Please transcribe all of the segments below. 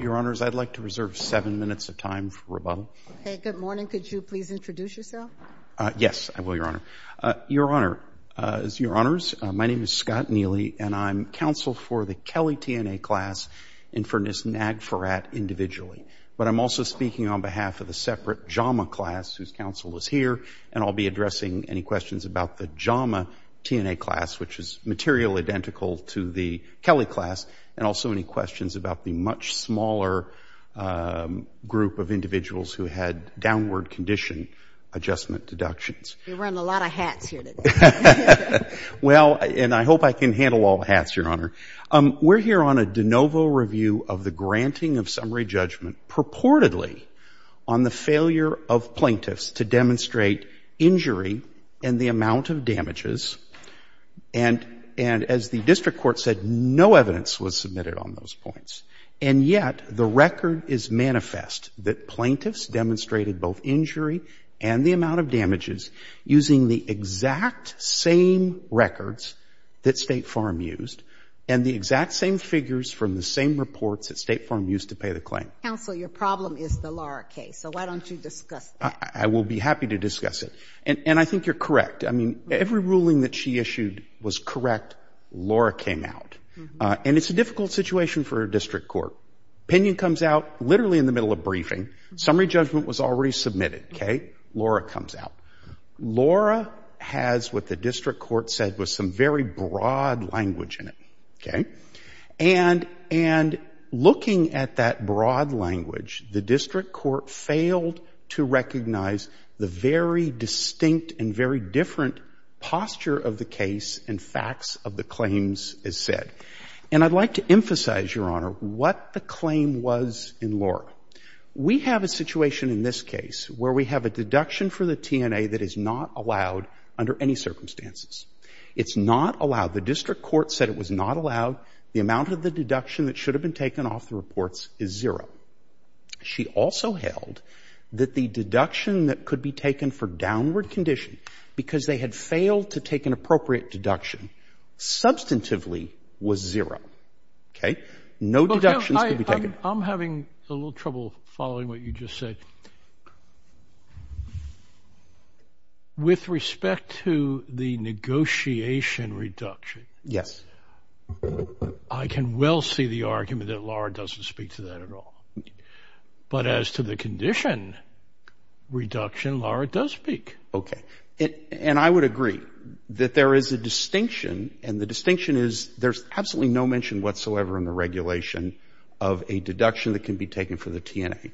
Your Honors, I'd like to reserve seven minutes of time for rebuttal. Okay. Good morning. Could you please introduce yourself? Yes. I will, Your Honor. Your Honor, Your Honors, my name is Scott Neely, and I'm counsel for the Kelly TNA class and for Ms. Nag Farad individually. But I'm also speaking on behalf of the separate Jama class whose counsel is here, and I'll be addressing any questions about the Jama TNA class, which is material identical to the Kelly class, and also any questions about the much smaller group of individuals who had downward condition adjustment deductions. You're wearing a lot of hats here today. Well, and I hope I can handle all the hats, Your Honor. We're here on a de novo review of the granting of summary judgment purportedly on the failure of plaintiffs to demonstrate injury and the amount of damages. And as the district court said, no evidence was submitted on those points. And yet the record is manifest that plaintiffs demonstrated both injury and the amount of damages using the exact same records that State Farm used and the exact same figures from the same reports that State Farm used to pay the claim. Counsel, your problem is the Lara case. So why don't you discuss that? I will be happy to discuss it. And I think you're correct. I mean, every ruling that she issued was correct. Lara came out. And it's a difficult situation for a district court. Opinion comes out literally in the middle of briefing. Summary judgment was already submitted, okay? Lara comes out. Lara has what the district court said was some very broad language in it, okay? And looking at that broad language, the district court failed to recognize the very distinct and very different posture of the case and facts of the claims as said. And I'd like to emphasize, Your Honor, what the claim was in Lara. We have a situation in this case where we have a deduction for the TNA that is not allowed under any circumstances. It's not allowed. The district court said it was not allowed. The amount of the deduction that should have been taken off the reports is zero. She also held that the deduction that could be taken for downward condition because they had failed to take an appropriate deduction substantively was zero, okay? No deductions could be taken. I'm having a little trouble following what you just said. Okay. With respect to the negotiation reduction, I can well see the argument that Lara doesn't speak to that at all. But as to the condition reduction, Lara does speak. Okay. And I would agree that there is a distinction and the distinction is there's absolutely no mention whatsoever in the regulation of a deduction that can be taken for the TNA.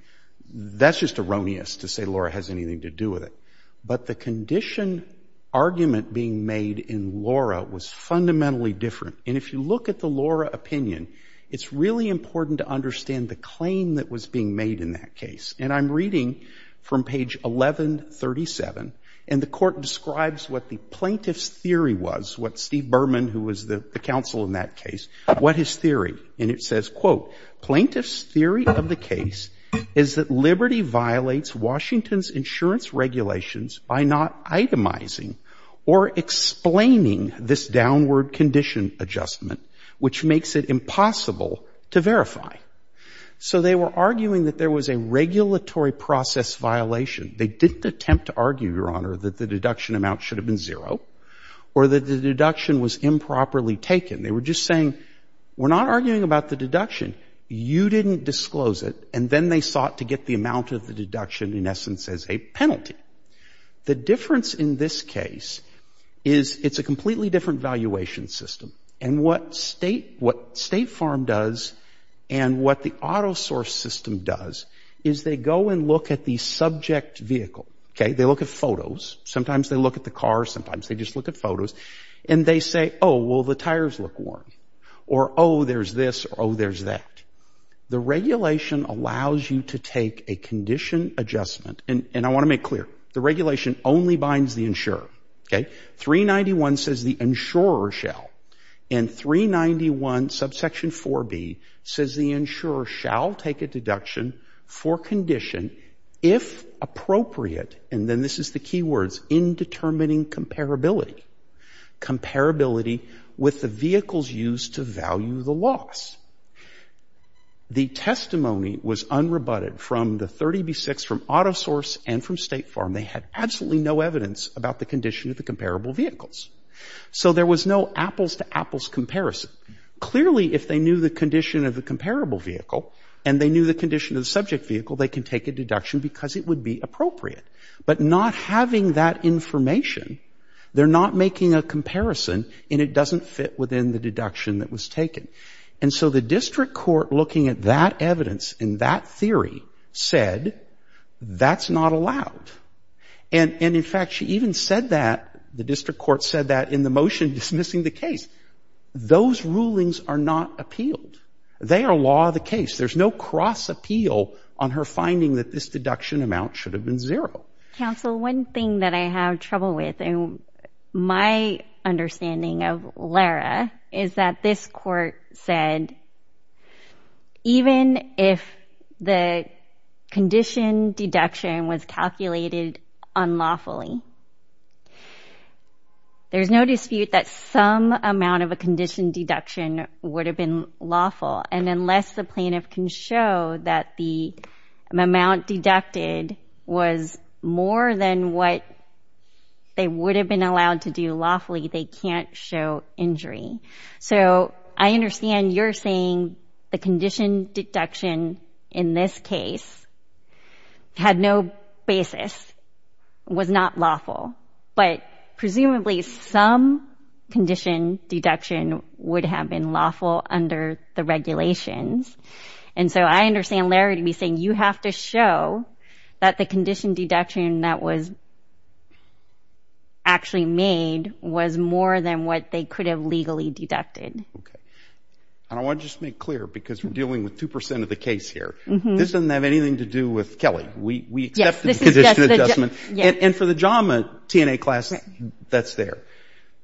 That's just erroneous to say Lara has anything to do with it. But the condition argument being made in Lara was fundamentally different. And if you look at the Lara opinion, it's really important to understand the claim that was being made in that case. And I'm reading from page 1137, and the court describes what the plaintiff's theory was, what Steve Berman, who was the counsel in that case, what his theory. And it says, quote, plaintiff's theory of the case is that Liberty violates Washington's insurance regulations by not itemizing or explaining this downward condition adjustment, which makes it impossible to verify. So they were arguing that there was a regulatory process violation. They didn't attempt to argue, Your Honor, that the deduction amount should have been zero or that the deduction was improperly taken. They were just saying, we're not arguing about the deduction. You didn't disclose it. And then they sought to get the amount of the deduction, in essence, as a penalty. The difference in this case is it's a completely different valuation system. And what State Farm does and what the auto source system does is they go and look at the subject vehicle. Okay, they look at photos. Sometimes they look at the car, sometimes they just look at photos. And they say, oh, well, the tires look worn. Or, oh, there's this, or, oh, there's that. The regulation allows you to take a condition adjustment. And I want to make clear, the regulation only binds the insurer. Okay, 391 says the insurer shall. And 391 subsection 4B says the insurer shall take a deduction for condition if appropriate, and then this is the key words, indetermining comparability. Comparability with the vehicles used to value the loss. The testimony was unrebutted from the 30B6, from auto source and from State Farm. They had absolutely no evidence about the condition of the comparable vehicles. So there was no apples to apples comparison. Clearly, if they knew the condition of the comparable vehicle, and they knew the condition of the subject vehicle, they can take a deduction because it would be appropriate. But not having that information, they're not making a comparison, and it doesn't fit within the deduction that was taken. And so the district court, looking at that evidence and that theory, said, that's not allowed. And in fact, she even said that, the district court said that in the motion dismissing the case. Those rulings are not appealed. They are law of the case. There's no cross appeal on her finding that this deduction amount should have been zero. Counsel, one thing that I have trouble with, and my understanding of Lara, is that this court said, even if the condition deduction was calculated unlawfully, there's no dispute that some amount of a condition deduction would have been lawful. And unless the plaintiff can show that the amount deducted was more than what they would have been allowed to do lawfully, they can't show injury. So, I understand you're saying the condition deduction in this case had no basis, was not lawful. But presumably, some condition deduction would have been lawful under the regulations. And so I understand Lara to be saying, you have to show that the condition deduction that was actually made was more than what they could have legally deducted. Okay, and I want to just make clear, because we're dealing with 2% of the case here, this doesn't have anything to do with Kelly. We accepted the condition adjustment, and for the JAMA TNA class, that's there.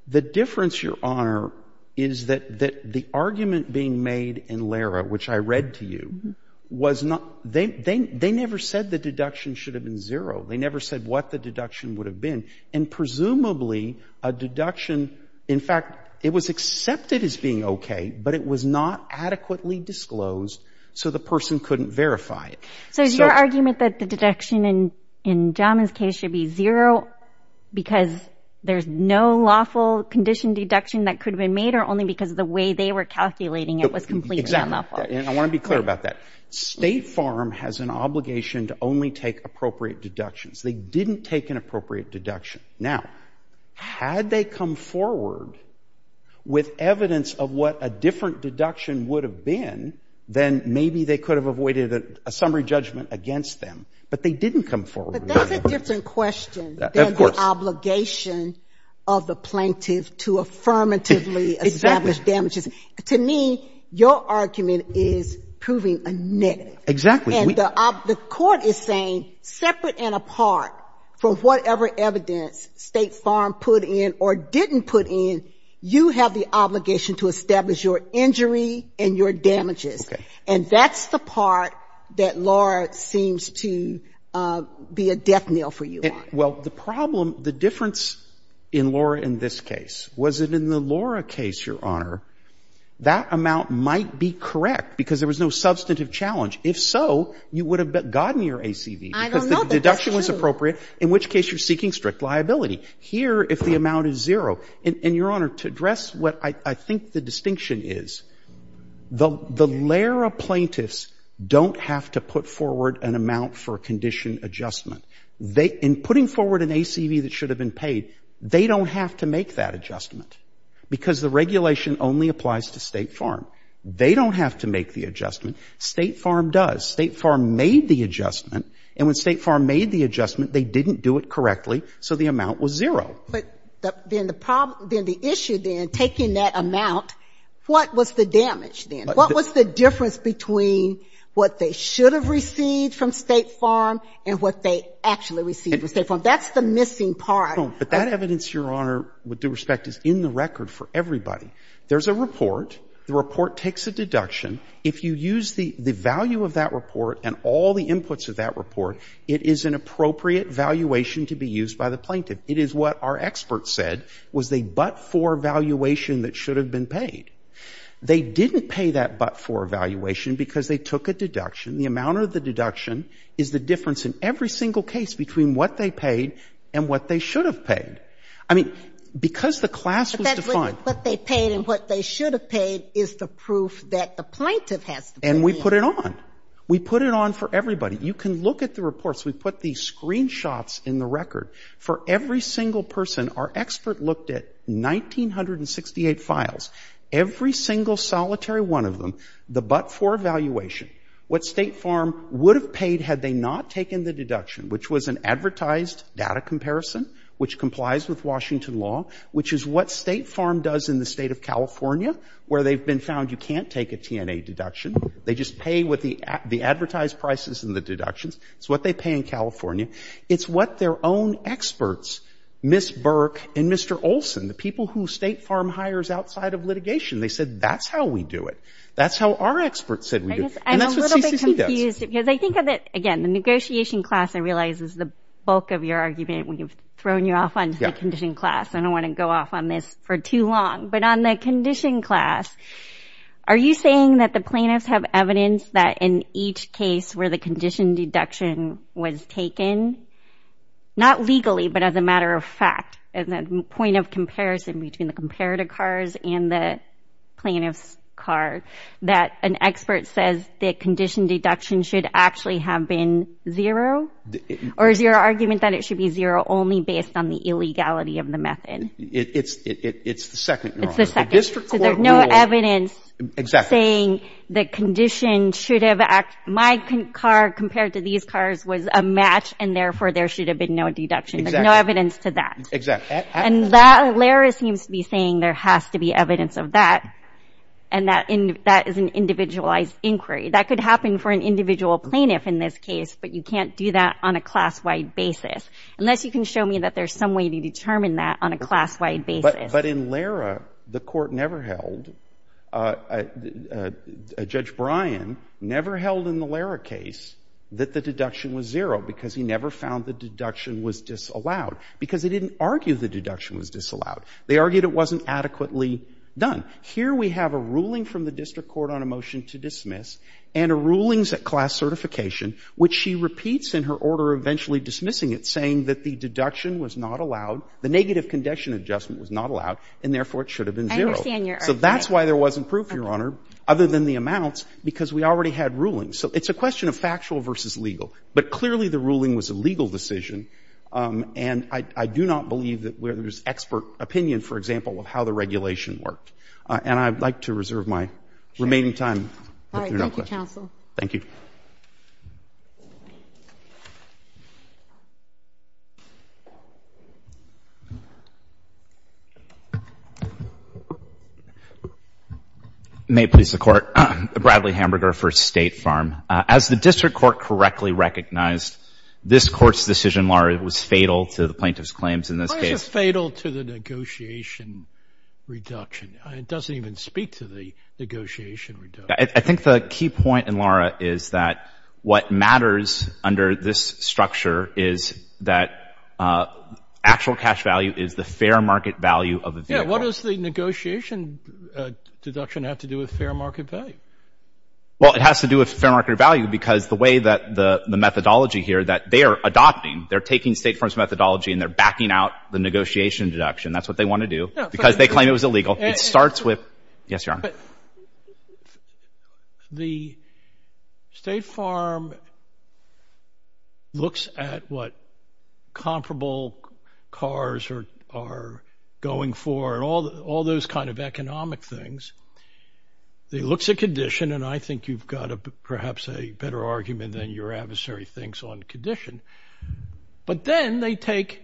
The difference, Your Honor, is that the argument being made in Lara, which I read to you, they never said the deduction should have been zero. They never said what the deduction would have been. And presumably, a deduction, in fact, it was accepted as being okay, but it was not adequately disclosed, so the person couldn't verify it. So, is your argument that the deduction in JAMA's case should be zero because there's no lawful condition deduction that could have been made, or only because of the way they were calculating it was completely unlawful? Exactly, and I want to be clear about that. State Farm has an obligation to only take appropriate deductions. They didn't take an appropriate deduction. Now, had they come forward with evidence of what a different deduction would have been, then maybe they could have avoided a summary judgment against them. But they didn't come forward with it. But that's a different question than the obligation of the plaintiff to affirmatively establish damages. To me, your argument is proving a nit. Exactly. And the court is saying, separate and apart from whatever evidence State Farm put in or didn't put in, you have the obligation to establish your injury and your damages. Okay. And that's the part that, Laura, seems to be a death nail for you. Well, the problem, the difference in Laura in this case, was it in the Laura case, Your Honor, that amount might be correct because there was no substantive challenge. If so, you would have gotten your ACV. I don't know if that's true. Because the deduction was appropriate, in which case you're seeking strict liability. Here, if the amount is zero, and, Your Honor, to address what I think the distinction is, the layer of plaintiffs don't have to put forward an amount for condition adjustment. They, in putting forward an ACV that should have been paid, they don't have to make that adjustment because the regulation only applies to State Farm. They don't have to make the adjustment. State Farm does. State Farm made the adjustment. And when State Farm made the adjustment, they didn't do it correctly, so the amount was zero. But then the problem, then the issue, then, taking that amount, what was the damage, then? What was the difference between what they should have received from State Farm and what they actually received from State Farm? That's the missing part. No. But that evidence, Your Honor, with due respect, is in the record for everybody. There's a report. The report takes a deduction. If you use the value of that report and all the inputs of that report, it is an appropriate valuation to be used by the plaintiff. It is what our experts said was a but-for valuation that should have been paid. They didn't pay that but-for valuation because they took a deduction. The amount of the deduction is the difference in every single case between what they paid and what they should have paid. I mean, because the class was defined. But that's what they paid and what they should have paid is the proof that the plaintiff has to pay. And we put it on. We put it on for everybody. You can look at the reports. We put these screenshots in the record for every single person. Our expert looked at 1968 files, every single solitary one of them, the but-for valuation, what State Farm would have paid had they not taken the deduction, which was an advertised data comparison, which complies with Washington law, which is what State Farm does in the State of California, where they've been found you can't take a TNA deduction. They just pay with the advertised prices and the deductions. It's what they pay in California. It's what their own experts, Ms. Burke and Mr. Olson, the people who State Farm hires outside of litigation. They said, that's how we do it. That's how our experts said we do it. And that's what CC does. I'm a little bit confused because I think of it again, the negotiation class, I realize, is the bulk of your argument. We've thrown you off on the condition class. I don't want to go off on this for too long. But on the condition class, are you saying that the plaintiffs have evidence that in each case where the condition deduction was taken, not legally, but as a matter of fact, as a point of comparison between the comparator cars and the plaintiff's car, that an expert says the condition deduction should actually have been zero, or is your argument that it should be zero only based on the illegality of the method? It's the second. It's the second. So there's no evidence saying the condition should have, my car compared to these cars was a match, and therefore there should have been no deduction. There's no evidence to that. And that, Lara seems to be saying there has to be evidence of that. And that is an individualized inquiry. That could happen for an individual plaintiff in this case, but you can't do that on a class-wide basis. Unless you can show me that there's some way to determine that on a class-wide basis. But in Lara, the court never held, Judge Bryan never held in the Lara case that the deduction was zero, because he never found the deduction was disallowed. Because they didn't argue the deduction was disallowed. They argued it wasn't adequately done. Here we have a ruling from the district court on a motion to dismiss, and a rulings at class certification, which she repeats in her order eventually dismissing it, saying that the deduction was not allowed, the negative condition adjustment was not allowed, and therefore it should have been zero. I understand your argument. So that's why there wasn't proof, Your Honor, other than the amounts, because we already had rulings. So it's a question of factual versus legal. But clearly the ruling was a legal decision. And I do not believe that there's expert opinion, for example, of how the regulation And I'd like to reserve my remaining time if there are no questions. All right. Thank you, counsel. May it please the Court, Bradley Hamburger for State Farm. As the district court correctly recognized, this Court's decision, Lara, was fatal to the plaintiff's claims in this case. Why is it fatal to the negotiation reduction? It doesn't even speak to the negotiation reduction. I think the key point in Lara is that what matters under this structure is that actual cash value is the fair market value of the vehicle. Yeah. What does the negotiation deduction have to do with fair market value? Well, it has to do with fair market value because the way that the methodology here that they are adopting, they're taking State Farm's methodology and they're backing out the negotiation deduction. That's what they want to do because they claim it was illegal. It starts with, yes, Your Honor. The State Farm looks at what comparable cars are going for and all those kind of economic things. It looks at condition, and I think you've got perhaps a better argument than your adversary thinks on condition. But then they take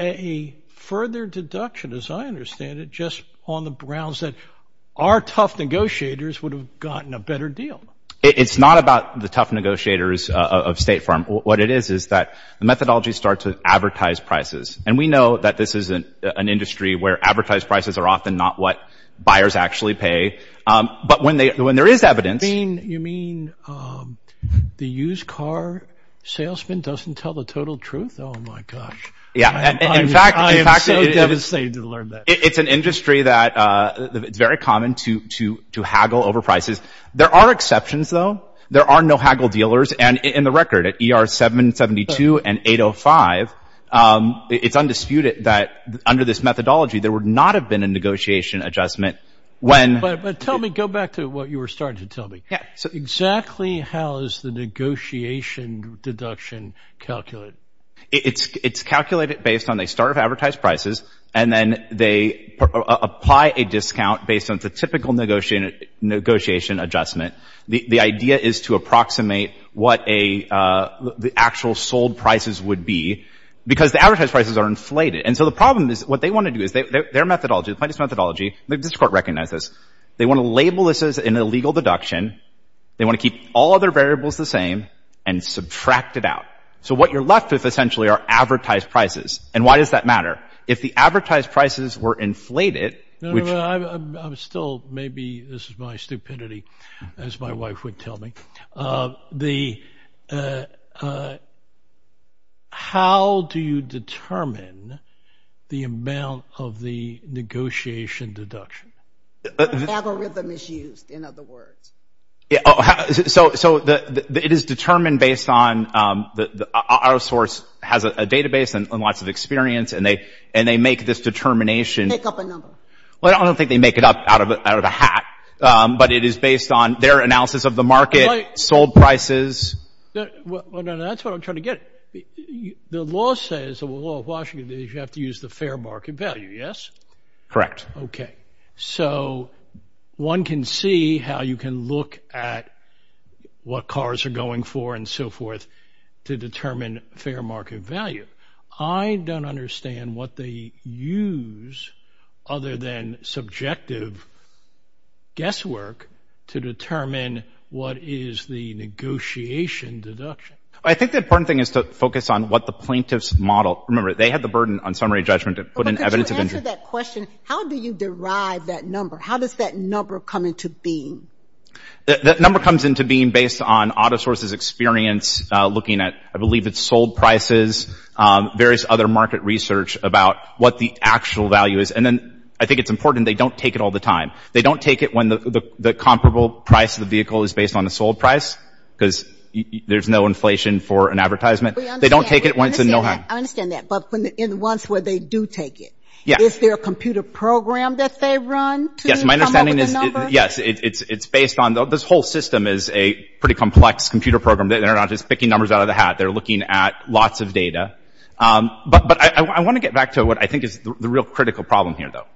a further deduction, as I understand it, just on the grounds that our tough negotiators would have gotten a better deal. It's not about the tough negotiators of State Farm. What it is is that the methodology starts with advertised prices. And we know that this is an industry where advertised prices are often not what buyers actually pay. But when there is evidence... You mean the used car salesman doesn't tell the total truth? Oh, my gosh. Yeah. I am so devastated to learn that. It's an industry that it's very common to haggle over prices. There are exceptions, though. There are no haggle dealers. And in the record, at ER 772 and 805, it's undisputed that under this methodology, there would not have been a negotiation adjustment when... Go back to what you were starting to tell me. Exactly how is the negotiation deduction calculated? It's calculated based on the start of advertised prices, and then they apply a discount based on the typical negotiation adjustment. The idea is to approximate what the actual sold prices would be, because the advertised prices are inflated. And so the problem is, what they want to do is, their methodology, the plaintiff's methodology, the district court recognizes this, they want to label this as an illegal deduction. They want to keep all other variables the same and subtract it out. So what you're left with, essentially, are advertised prices. And why does that matter? If the advertised prices were inflated, which... No, no, no. I'm still... Maybe this is my stupidity, as my wife would tell me. The... How do you determine the amount of the negotiation deduction? The algorithm is used, in other words. So it is determined based on our source has a database and lots of experience, and they make this determination. Pick up a number. Well, I don't think they make it up out of a hat, but it is based on their analysis of the market, sold prices. Well, no, no. That's what I'm trying to get at. The law says, the law of Washington, that you have to use the fair market value, yes? Correct. Okay. So one can see how you can look at what cars are going for and so forth to determine fair market value. I don't understand what they use, other than subjective guesswork, to determine what is the negotiation deduction. I think the important thing is to focus on what the plaintiffs model. Remember, they had the burden on summary judgment to put in evidence of... But could you answer that question? How do you derive that number? How does that number come into being? That number comes into being based on AutoSource's experience looking at, I believe, its sold prices, various other market research about what the actual value is. And then I think it's important they don't take it all the time. They don't take it when the comparable price of the vehicle is based on the sold price, because there's no inflation for an advertisement. They don't take it once in no time. I understand that. But in the ones where they do take it, is there a computer program that they run to come up with a number? Yes. My understanding is, yes. It's based on... This whole system is a pretty complex computer program. They're not just picking numbers out of the hat. They're looking at lots of data. But I want to get back to what I think is the real critical problem here, though.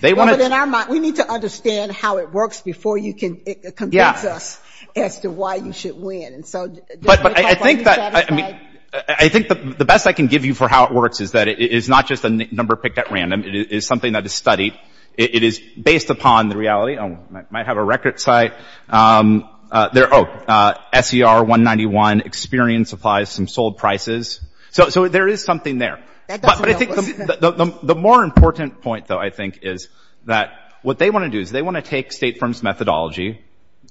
They want to... In our mind, we need to understand how it works before you can convince us as to why you should win. And so... But I think that... I mean, I think the best I can give you for how it works is that it is not just a number picked at random. It is something that is studied. It is based upon the reality. I might have a record site. There... Oh. SER191. Experian supplies some sold prices. So there is something there. That doesn't help us. But I think the more important point, though, I think, is that what they want to do is they want to take state firms' methodology,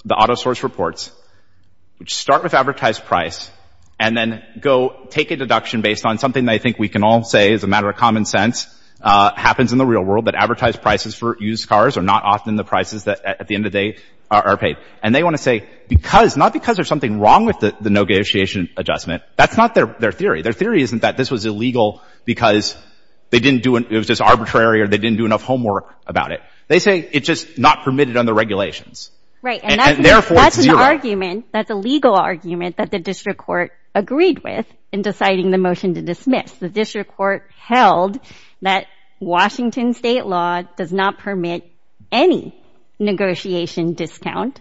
the autosource reports, which start with advertised price, and then go take a deduction based on something that I think we can all say is a matter of common sense, happens in the real world, that advertised prices for used cars are not often the prices that, at the end of the day, are paid. And they want to say, because... Not because there's something wrong with the no-gatiation adjustment. That's not their theory. Their theory isn't that this was illegal because they didn't do... It was just arbitrary or they didn't do enough homework about it. They say it's just not permitted under regulations. Right. And therefore, it's zero. That's an argument. That's a legal argument that the district court agreed with in deciding the motion to dismiss. The district court held that Washington state law does not permit any negotiation discount,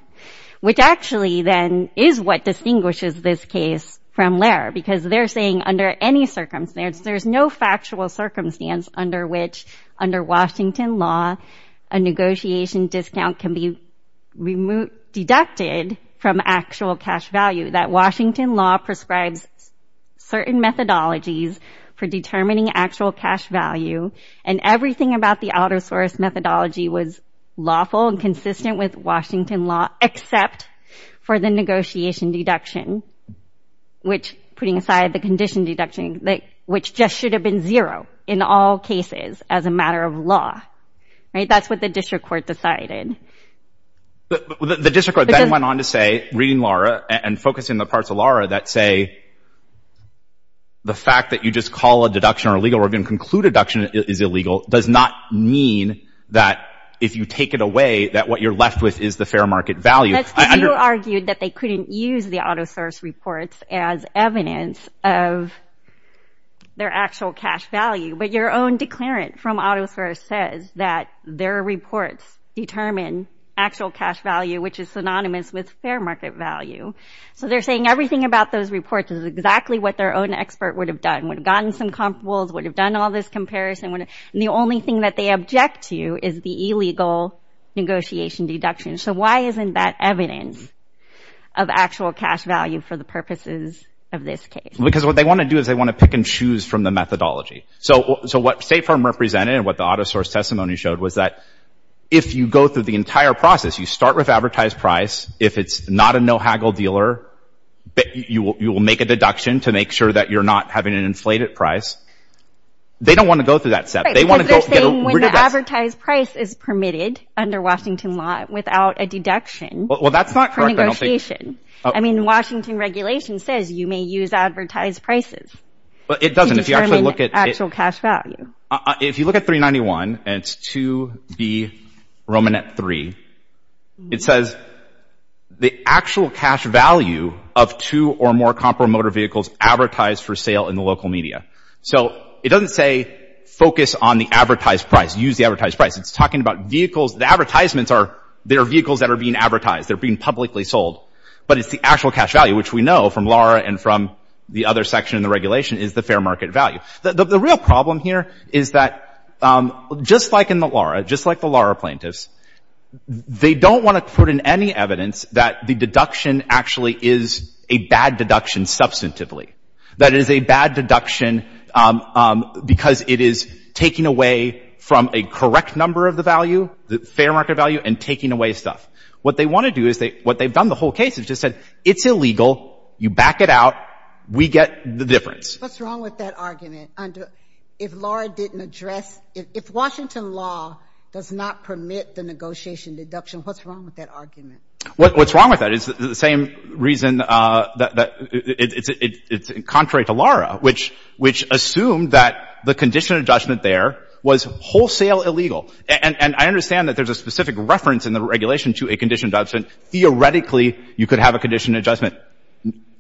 which actually, then, is what distinguishes this case from Laird. Because they're saying under any circumstance, there's no factual circumstance under which, under Washington law, a negotiation discount can be deducted from actual cash value. That Washington law prescribes certain methodologies for determining actual cash value, and everything about the outer source methodology was lawful and consistent with Washington law, except for the negotiation deduction, which, putting aside the condition deduction, which just should have been zero, in all cases, as a matter of law. Right? That's what the district court decided. But the district court then went on to say, reading Lara, and focusing on the parts of Lara that say, the fact that you just call a deduction illegal, we're going to conclude deduction is illegal, does not mean that, if you take it away, that what you're left with is the fair market value. That's because you argued that they couldn't use the outer source reports as evidence of their actual cash value, but your own declarant from outer source says that their reports determine actual cash value, which is synonymous with fair market value. So they're saying everything about those reports is exactly what their own expert would have done, would have gotten some compables, would have done all this comparison, and the only thing that they object to is the illegal negotiation deduction. So why isn't that evidence of actual cash value for the purposes of this case? Because what they want to do is they want to pick and choose from the methodology. So what State Farm represented and what the outer source testimony showed was that if you go through the entire process, you start with advertised price, if it's not a no-haggle dealer, you will make a deduction to make sure that you're not having an inflated price. They don't want to go through that step. They want to get rid of that. Right. Because they're saying when the advertised price is permitted under Washington law without a deduction for negotiation. Well, that's not correct. I don't think... I mean, Washington regulation says you may use advertised prices to determine actual cash value. If you look at 391 and it's 2B Romanet 3, it says the actual cash value of two or more compromotor vehicles advertised for sale in the local media. So it doesn't say focus on the advertised price, use the advertised price. It's talking about vehicles, the advertisements are, they're vehicles that are being advertised, they're being publicly sold, but it's the actual cash value, which we know from Laura and from the other section in the regulation is the fair market value. The real problem here is that just like in the Laura, just like the Laura plaintiffs, they don't want to put in any evidence that the deduction actually is a bad deduction substantively, that it is a bad deduction because it is taking away from a correct number of the value, the fair market value, and taking away stuff. What they want to do is they, what they've done the whole case is just said, it's illegal, you back it out, we get the difference. What's wrong with that argument under, if Laura didn't address, if Washington law does not permit the negotiation deduction, what's wrong with that argument? What's wrong with that is the same reason that it's contrary to Laura, which assumed that the condition of judgment there was wholesale illegal. And I understand that there's a specific reference in the regulation to a condition of judgment. Theoretically you could have a condition of judgment.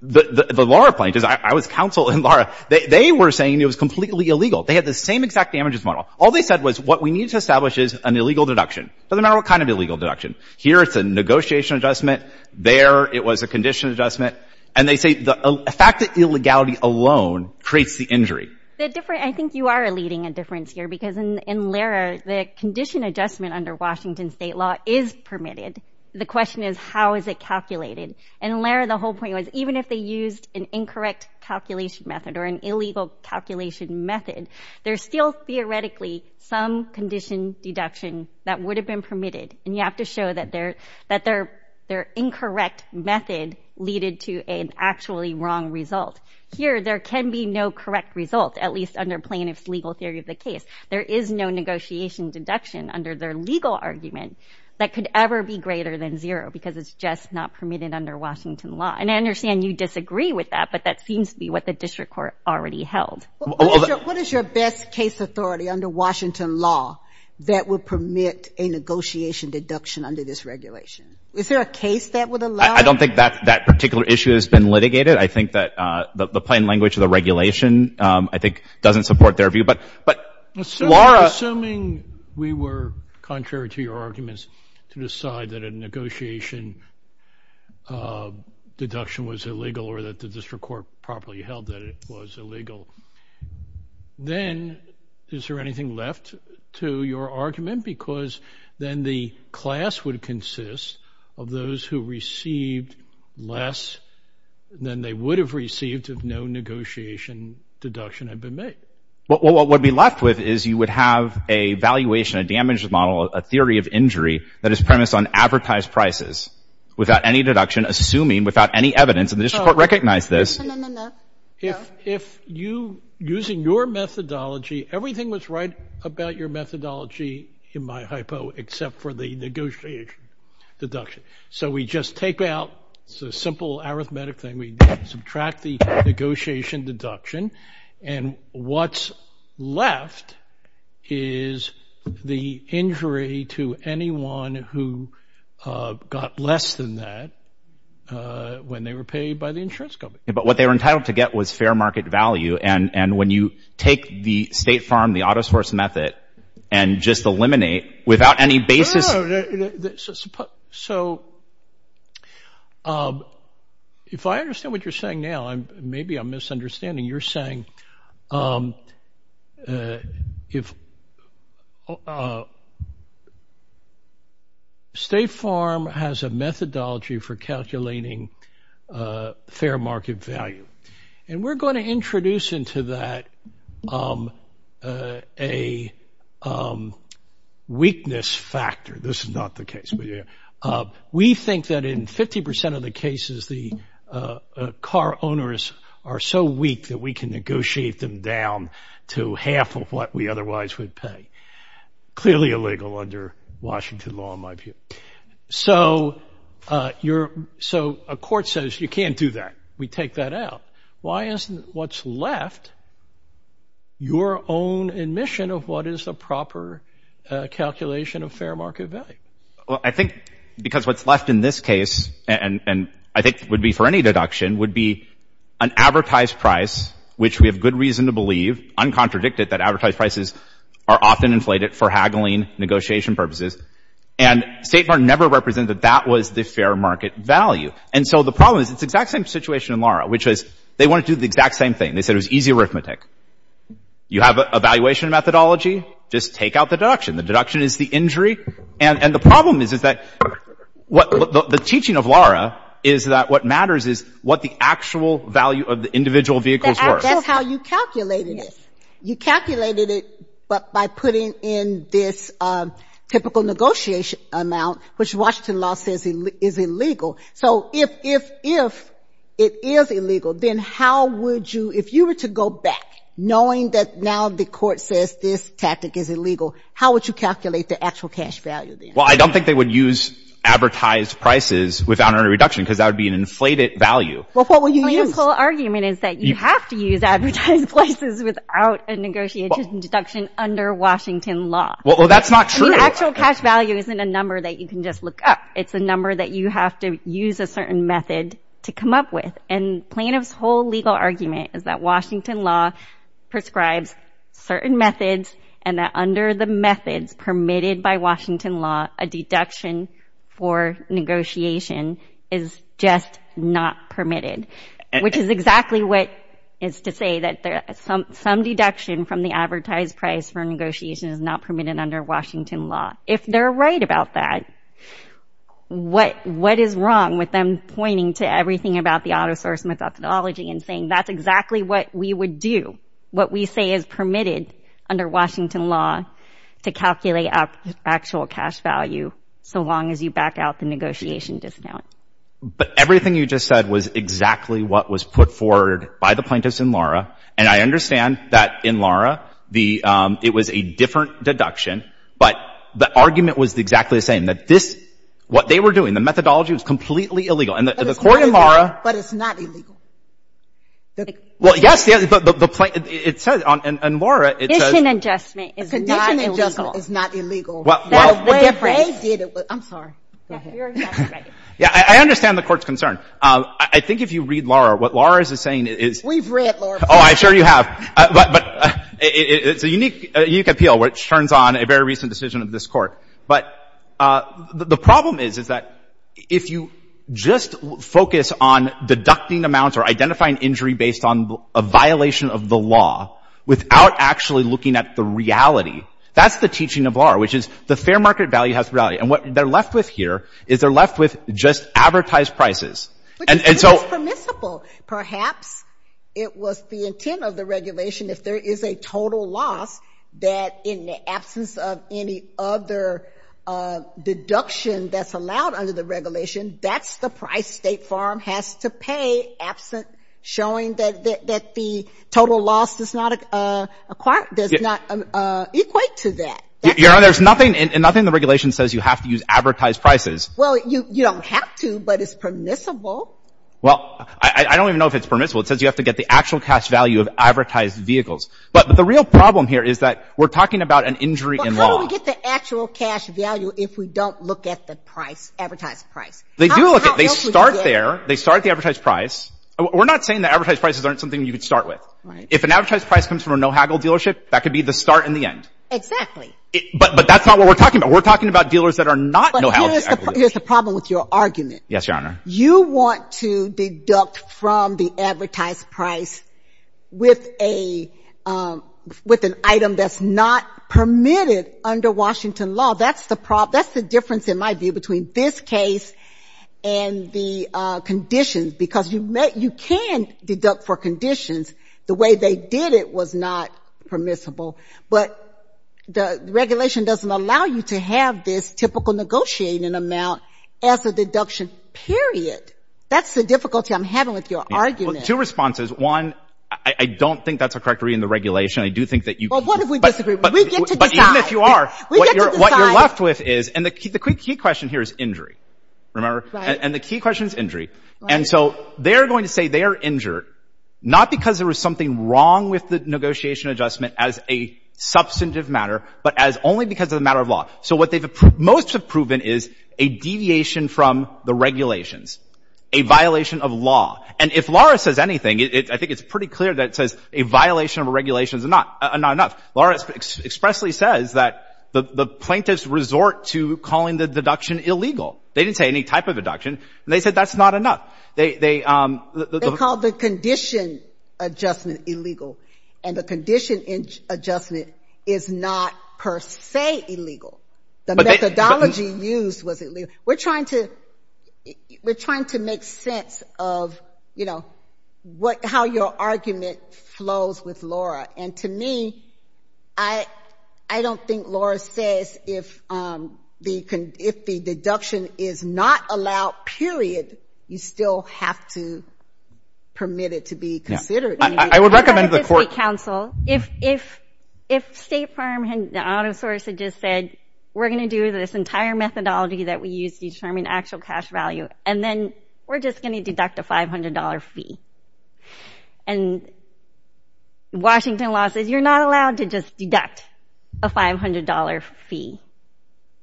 The Laura plaintiffs, I was counsel in Laura, they were saying it was completely illegal. They had the same exact damages model. All they said was what we need to establish is an illegal deduction, doesn't matter what kind of illegal deduction. Here it's a negotiation adjustment, there it was a condition adjustment. And they say the fact that illegality alone creates the injury. The difference, I think you are leading a difference here because in Laura, the condition adjustment under Washington state law is permitted. The question is how is it calculated? And in Laura, the whole point was even if they used an incorrect calculation method or an illegal calculation method, there's still theoretically some condition deduction that would have been permitted. And you have to show that their incorrect method leaded to an actually wrong result. Here there can be no correct result, at least under plaintiff's legal theory of the case. There is no negotiation deduction under their legal argument that could ever be greater than zero because it's just not permitted under Washington law. And I understand you disagree with that, but that seems to be what the district court already held. What is your best case authority under Washington law that would permit a negotiation deduction under this regulation? Is there a case that would allow it? I don't think that particular issue has been litigated. I think that the plain language of the regulation, I think, doesn't support their view. But Laura Assuming we were contrary to your arguments to decide that a negotiation deduction was illegal or that the district court properly held that it was illegal, then is there anything left to your argument? Because then the class would consist of those who received less than they would have received if no negotiation deduction had been made. What would be left with is you would have a valuation, a damage model, a theory of injury that is premised on advertised prices without any deduction, assuming without any evidence and the district court recognized this. If you, using your methodology, everything was right about your methodology in my hypo except for the negotiation deduction. So we just take out, it's a simple arithmetic thing, we subtract the negotiation deduction and what's left is the injury to anyone who got less than that when they were paid by the insurance company. But what they were entitled to get was fair market value and when you take the state farm, the autosource method, and just eliminate without any basis No, so if I understand what you're saying now, maybe I'm misunderstanding. You're saying if state farm has a methodology for calculating fair market value and we're going to introduce into that a weakness factor. This is not the case. We think that in 50% of the cases, the car owners are so weak that we can negotiate them down to half of what we otherwise would pay. Clearly illegal under Washington law in my view. So a court says you can't do that. We take that out. Why isn't what's left your own admission of what is the proper calculation of fair market value? Well, I think because what's left in this case and I think would be for any deduction would be an advertised price, which we have good reason to believe, uncontradicted that advertised prices are often inflated for haggling negotiation purposes and state farm never represented that that was the fair market value. And so the problem is it's the exact same situation in Lara, which is they want to do the exact same thing. They said it was easy arithmetic. You have an evaluation methodology. Just take out the deduction. The deduction is the injury. And the problem is that what the teaching of Lara is that what matters is what the actual value of the individual vehicles were. That's how you calculated it. You calculated it by putting in this typical negotiation amount, which Washington law says is illegal. So if if if it is illegal, then how would you if you were to go back knowing that now the court says this tactic is illegal, how would you calculate the actual cash value? Well, I don't think they would use advertised prices without a reduction because that would be an inflated value. Well, what will you use? Our argument is that you have to use advertised places without a negotiated deduction under Washington law. Well, that's not true. Actual cash value isn't a number that you can just look up. It's a number that you have to use a certain method to come up with. And plaintiff's whole legal argument is that Washington law prescribes certain methods and that under the methods permitted by Washington law, a deduction for negotiation is just not permitted, which is exactly what is to say that some some deduction from the advertised price for negotiation is not permitted under Washington law. If they're right about that, what what is wrong with them pointing to everything about the autosource methodology and saying that's exactly what we would do, what we say is permitted under Washington law to calculate actual cash value so long as you back out the negotiation discount. But everything you just said was exactly what was put forward by the plaintiffs in Laura. And I understand that in Laura, the it was a different deduction, but the argument was exactly the same, that this what they were doing, the methodology was completely illegal. And the court in Laura. But it's not illegal. Well, yes, but the plaintiff, it says on and Laura, it says. Condition adjustment is not illegal. Condition adjustment is not illegal. Well, the difference. They did it, I'm sorry. Yeah, I understand the court's concern. I think if you read Laura, what Laura is saying is. We've read Laura. Oh, I'm sure you have, but it's a unique, unique appeal, which turns on a very recent decision of this court. But the problem is, is that if you just focus on deducting amounts or identifying injury based on a violation of the law without actually looking at the reality, that's the teaching of Laura, which is the fair market value has value. And what they're left with here is they're left with just advertised prices. And so it's permissible, perhaps it was the intent of the regulation. If there is a total loss that in the absence of any other deduction that's allowed under the regulation, that's the price State Farm has to pay. Absent showing that the total loss does not equate to that, you know, there's nothing and nothing. The regulation says you have to use advertised prices. Well, you don't have to, but it's permissible. Well, I don't even know if it's permissible. It says you have to get the actual cash value of advertised vehicles. But the real problem here is that we're talking about an injury in law. We get the actual cash value if we don't look at the price, advertised price. They do look at they start there. They start the advertised price. We're not saying the advertised prices aren't something you could start with. If an advertised price comes from a no haggle dealership, that could be the start in the end. Exactly. But that's not what we're talking about. We're talking about dealers that are not no haggle dealers. Here's the problem with your argument. Yes, Your Honor. You want to deduct from the advertised price with a with an item that's not permitted under Washington law. That's the problem. That's the difference, in my view, between this case and the conditions, because you can deduct for conditions. The way they did it was not permissible. But the regulation doesn't allow you to have this typical negotiating amount as a deduction, period. That's the difficulty I'm having with your argument. Two responses. One, I don't think that's a correct reading of the regulation. I do think that you... Well, what if we disagree? We get to decide. Even if you are, what you're left with is, and the key question here is injury. Remember? And the key question is injury. And so they're going to say they are injured, not because there was something wrong with the negotiation adjustment as a substantive matter, but as only because of the matter of law. So what they've most have proven is a deviation from the regulations, a violation of law. And if Laura says anything, I think it's pretty clear that it says a violation of a regulation is not enough. Laura expressly says that the plaintiffs resort to calling the deduction illegal. They didn't say any type of deduction. And they said that's not enough. They called the condition adjustment illegal. And the condition adjustment is not per se illegal. The methodology used was illegal. We're trying to make sense of, you know, how your argument flows with Laura. And to me, I don't think Laura says if the deduction is not allowed, period, you still have to permit it to be considered. I would recommend to the court. I've talked to state counsel. If State Farm and the auto source had just said, we're going to do this entire methodology that we use to determine actual cash value, and then we're just going to deduct a $500 fee. And Washington law says you're not allowed to just deduct a $500 fee.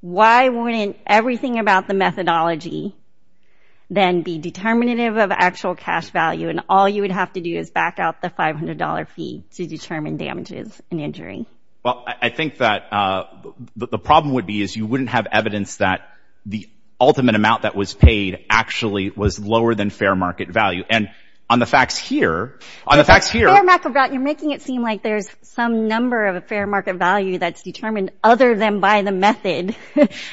Why wouldn't everything about the methodology then be determinative of actual cash value? And all you would have to do is back out the $500 fee to determine damages and injury. Well, I think that the problem would be is you wouldn't have evidence that the ultimate amount that was paid actually was lower than fair market value. And on the facts here, on the facts here. You're making it seem like there's some number of a fair market value that's determined other than by the method.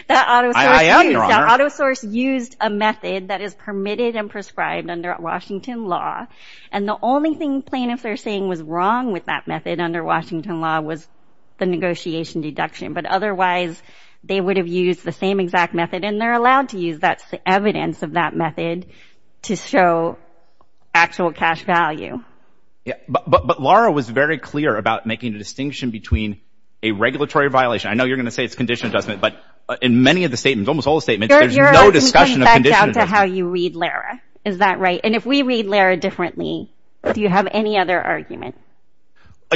That auto source used a method that is permitted and prescribed under Washington law. And the only thing plaintiffs are saying was wrong with that method under Washington law was the negotiation deduction. But otherwise, they would have used the same exact method. And they're allowed to use that evidence of that method to show actual cash value. Yeah, but Laura was very clear about making a distinction between a regulatory violation. I know you're going to say it's condition adjustment, but in many of the statements, almost all the statements, there's no discussion of condition adjustment. You're going back to how you read, Laura. Is that right? And if we read, Laura, differently, do you have any other argument?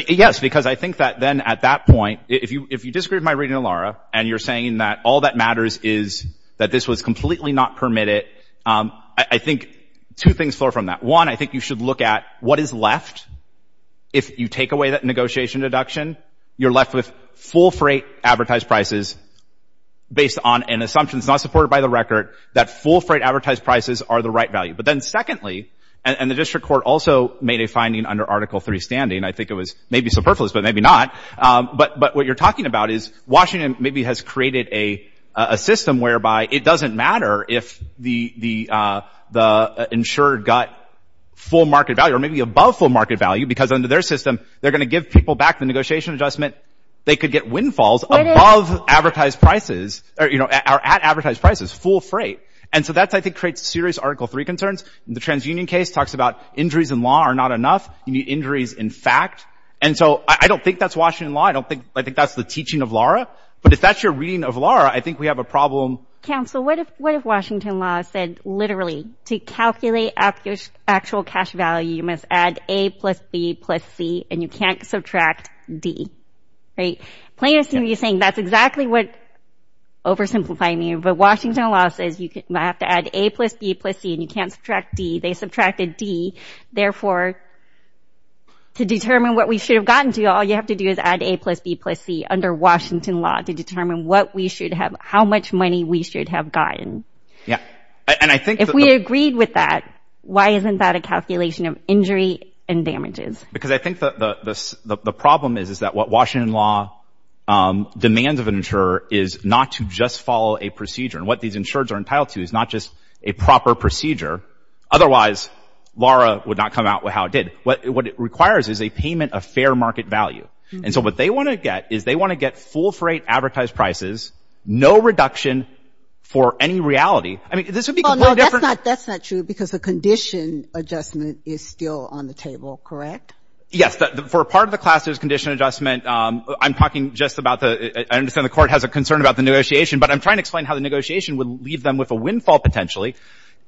Yes, because I think that then at that point, if you disagree with my reading, Laura, and you're saying that all that matters is that this was completely not permitted. I think two things flow from that. One, I think you should look at what is left if you take away that negotiation deduction. You're left with full freight advertised prices based on an assumption that's not supported by the record that full freight advertised prices are the right value. But then secondly, and the district court also made a finding under Article 3 standing, I think it was maybe superfluous, but maybe not. But what you're talking about is Washington maybe has created a system whereby it doesn't matter if the insured got full market value or maybe above full market value because under their system, they're going to give people back the negotiation adjustment. They could get windfalls above advertised prices or at advertised prices, full freight. And so that's, I think, creates serious Article 3 concerns. The transunion case talks about injuries in law are not enough. You need injuries in fact. And so I don't think that's Washington law. I don't think I think that's the teaching of Laura. But if that's your reading of Laura, I think we have a problem. Counsel, what if what if Washington law said literally to calculate actual cash value, you must add A plus B plus C and you can't subtract D. Right. Plaintiff's going to be saying that's exactly what oversimplifying you. But Washington law says you have to add A plus B plus C and you can't subtract D. They subtracted D. Therefore. To determine what we should have gotten to, all you have to do is add A plus B plus C under Washington law to determine what we should have, how much money we should have gotten. Yeah. And I think if we agreed with that, why isn't that a calculation of injury and damages? Because I think the problem is, is that what Washington law demands of an insurer is not to just follow a procedure and what these insured are entitled to is not just a proper procedure. Otherwise, Laura would not come out with how it did what it requires is a payment of fair market value. And so what they want to get is they want to get full freight advertised prices, no reduction for any reality. I mean, this would be different. That's not true because the condition adjustment is still on the table. Correct. Yes. For part of the class, there's condition adjustment. I'm talking just about the I understand the court has a concern about the negotiation, but I'm trying to explain how the negotiation would leave them with a windfall potentially.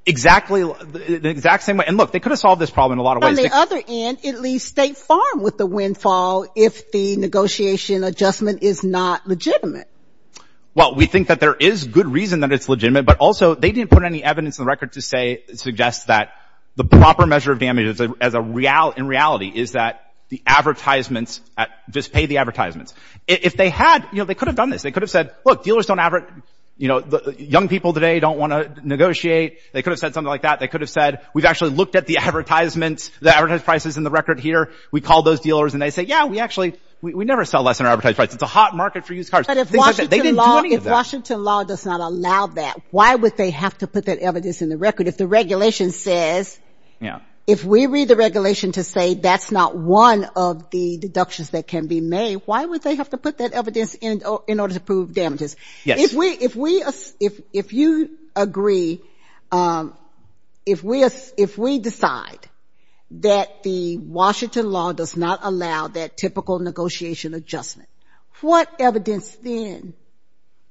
Exactly the exact same way. And look, they could have solved this problem in a lot of ways. On the other hand, it leaves State Farm with the windfall if the negotiation adjustment is not legitimate. Well, we think that there is good reason that it's legitimate, but also they didn't put any evidence in the record to say suggests that the proper measure of damage as a reality in reality is that the advertisements just pay the advertisements. If they had, you know, they could have done this. They could have said, look, dealers don't ever, you know, young people today don't want to negotiate. They could have said something like that. They could have said, we've actually looked at the advertisements, the advertised prices in the record here. We call those dealers and they say, yeah, we actually we never sell less than our advertised price. It's a hot market for used cars. But if Washington law does not allow that, why would they have to put that evidence in the record? If the regulation says, you know, if we read the regulation to say that's not one of the deductions that can be made. Why would they have to put that evidence in in order to prove damages? Yes. If we if we if if you agree, if we if we decide that the Washington law does not allow that typical negotiation adjustment, what evidence then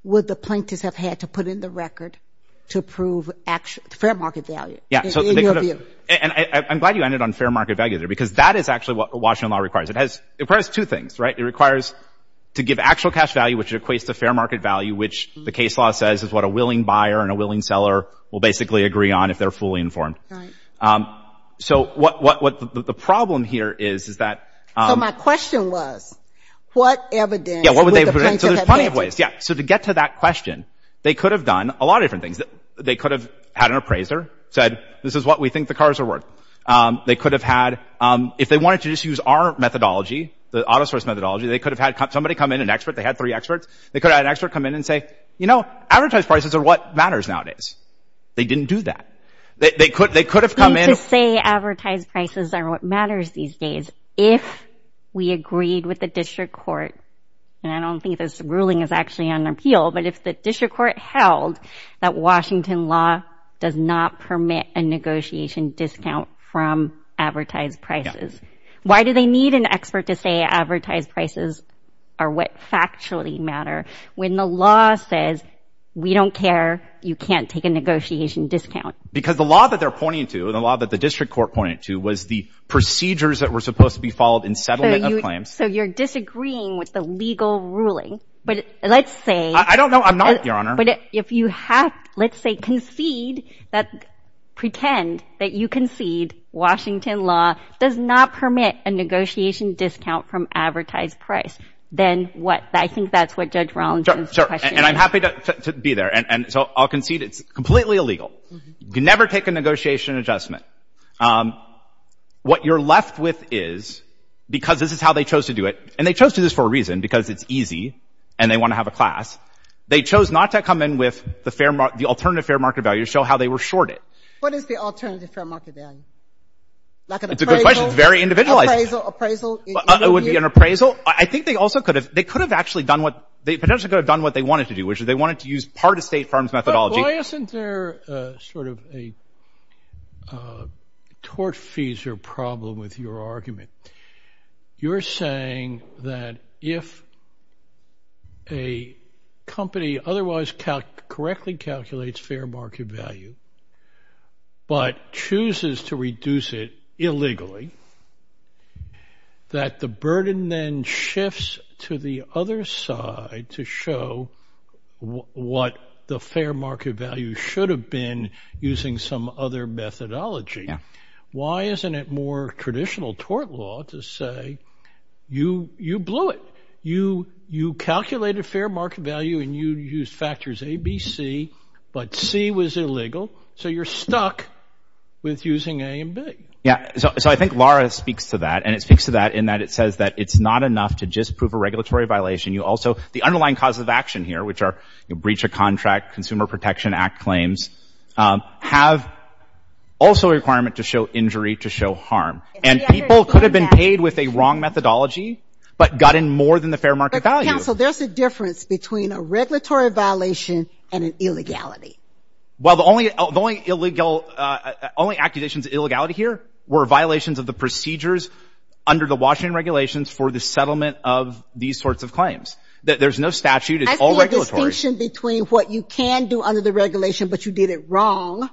would the plaintiffs have had to put in the record to prove actual fair market value? Yeah. So and I'm glad you ended on fair market value there, because that is actually what Washington law requires. It has two things, right? It requires to give actual cash value, which equates to fair market value, which the case law says is what a willing buyer and a willing seller will basically agree on if they're fully informed. So what what the problem here is, is that. So my question was, what evidence would the plaintiffs have had to put in? Yeah, so there's plenty of ways. Yeah. So to get to that question, they could have done a lot of different things that they could have had an appraiser said, this is what we think the cars are worth. They could have had if they wanted to just use our methodology, the autosource methodology, they could have had somebody come in an expert. They had three experts. They could have an expert come in and say, you know, advertise prices are what matters nowadays. They didn't do that. They could they could have come in to say advertise prices are what matters these days. If we agreed with the district court, and I don't think this ruling is actually an appeal, but if the district court held that Washington law does not permit a negotiation discount from advertised prices, why do they need an expert to say advertise prices are what factually matter when the law says we don't care? You can't take a negotiation discount because the law that they're pointing to and a lot that the district court pointed to was the procedures that were supposed to be followed in settlement of claims. So you're disagreeing with the legal ruling, but let's say I don't know. I'm not, Your Honor. But if you have, let's say, concede that pretend that you concede Washington law does not permit a negotiation discount from advertised price, then what? I think that's what Judge Rollins is. So and I'm happy to be there. And so I'll concede it's completely illegal. You can never take a negotiation adjustment. What you're left with is, because this is how they chose to do it, and they chose to do this for a reason, because it's easy and they want to have a class, they chose not to come in with the fair, the alternative fair market value to show how they were shorted. What is the alternative fair market value? Like an appraisal? Very individualized appraisal would be an appraisal. I think they also could have. They could have actually done what they potentially could have done what they wanted to do, which is they wanted to use part of state farms methodology. Why isn't there sort of a tortfeasor problem with your argument? You're saying that if a company otherwise correctly calculates fair market value, but chooses to reduce it illegally, that the burden then shifts to the other side to show what the fair market value should have been using some other methodology. Why isn't it more traditional tort law to say, you blew it, you calculated fair market value and you used factors A, B, C, but C was illegal, so you're stuck with using A and B. Yeah. So I think Laura speaks to that, and it speaks to that in that it says that it's not enough to just prove a regulatory violation. You also, the underlying causes of action here, which are breach of contract, Consumer Protection Act claims, have also a requirement to show injury, to show harm. And people could have been paid with a wrong methodology, but got in more than the fair market value. Counsel, there's a difference between a regulatory violation and an illegality. Well, the only, the only illegal, only accusations of illegality here were violations of the procedures under the Washington regulations for the settlement of these sorts of claims. There's no statute. It's all regulatory. I see a distinction between what you can do under the regulation, but you did it wrong,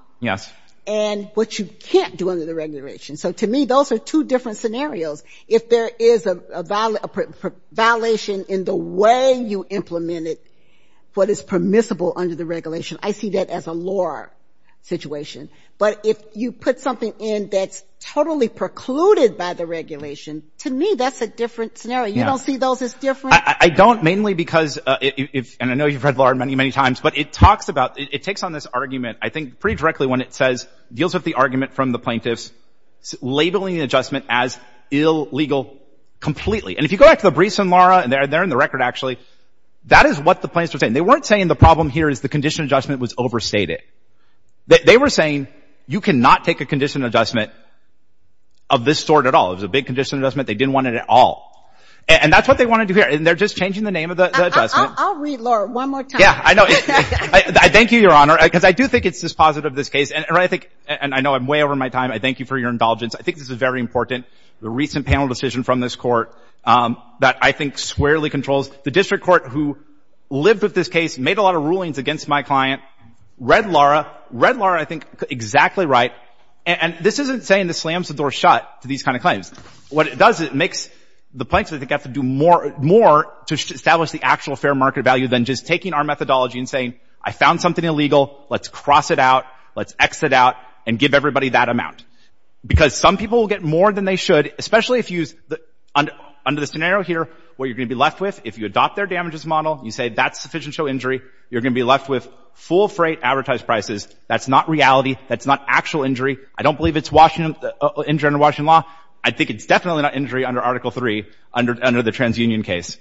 and what you can't do under the regulation. So to me, those are two different scenarios. If there is a violation in the way you implemented what is permissible under the regulation. I see that as a law situation, but if you put something in that's totally precluded by the regulation, to me, that's a different scenario. You don't see those as different? I don't, mainly because, and I know you've read Laura many, many times, but it talks about, it takes on this argument, I think, pretty directly when it says, deals with the argument from the plaintiffs, labeling an adjustment as illegal completely. And if you go back to the briefs from Laura, and they're in the record, actually, that is what the plaintiffs were saying. They weren't saying the problem here is the condition adjustment was overstated. They were saying, you cannot take a condition adjustment of this sort at all. It was a big condition adjustment. They didn't want it at all, and that's what they want to do here, and they're just changing the name of the adjustment. I'll read, Laura, one more time. Yeah, I know. Thank you, Your Honor, because I do think it's just positive, this case, and I think, and I know I'm way over my time. I thank you for your indulgence. I think this is very important, the recent panel decision from this Court that I think squarely controls. The district court who lived with this case made a lot of rulings against my client, read Laura. Read Laura, I think, exactly right, and this isn't saying this slams the door shut to these kind of claims. What it does is it makes the plaintiffs, I think, have to do more to establish the actual fair market value than just taking our methodology and saying, I found something illegal. Let's cross it out. Let's X it out and give everybody that amount, because some people will get more than they should, especially if you use, under the scenario here, what you're going to be left with, if you adopt their damages model, you say that's sufficient to show injury, you're going to be left with full freight advertised prices. That's not reality. That's not actual injury. I don't believe it's injury under Washington law. I think it's definitely not injury under Article 3, under the TransUnion case.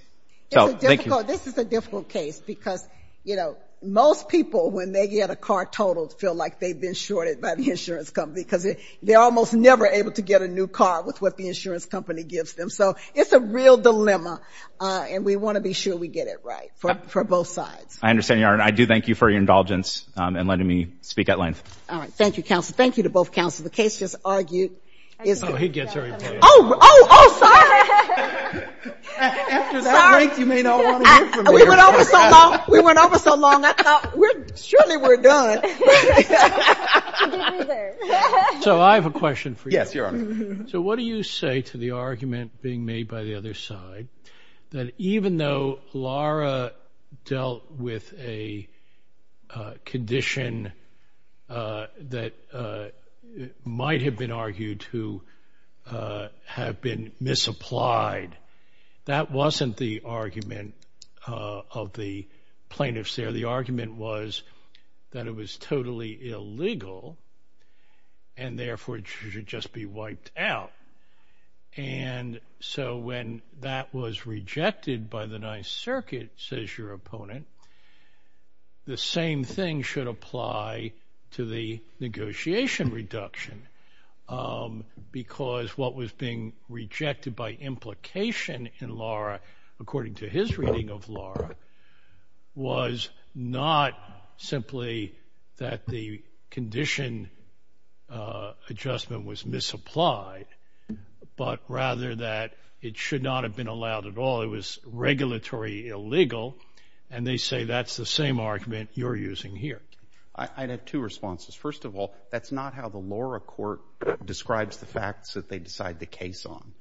So, thank you. This is a difficult case, because, you know, most people, when they get a car totaled, feel like they've been shorted by the insurance company, because they're almost never able to get a new car with what the insurance company gives them. So, it's a real dilemma, and we want to be sure we get it right for both sides. I understand, Your Honor. I do thank you for your indulgence in letting me speak at length. All right. Thank you, counsel. Thank you to both counsel. The case just argued is... Oh, he gets her. Oh, oh, oh, sorry. After that length, you may not want to hear from me. We went over so long. We went over so long. I thought, surely we're done. What did you do there? So, I have a question for you. Yes, Your Honor. So, what do you say to the argument being made by the other side, that even though Laura dealt with a condition that might have been argued to have been misapplied, that wasn't the argument of the plaintiffs there. The argument was that it was totally illegal, and therefore, it should just be wiped out. And so, when that was rejected by the Ninth Circuit, says your opponent, the same thing should apply to the negotiation reduction. Because what was being rejected by implication in Laura, according to his reading of Laura, was not simply that the condition adjustment was misapplied, but rather that it should not have been allowed at all. It was regulatory illegal. And they say that's the same argument you're using here. I'd have two responses. First of all, that's not how the Laura court describes the facts that they decide the case on.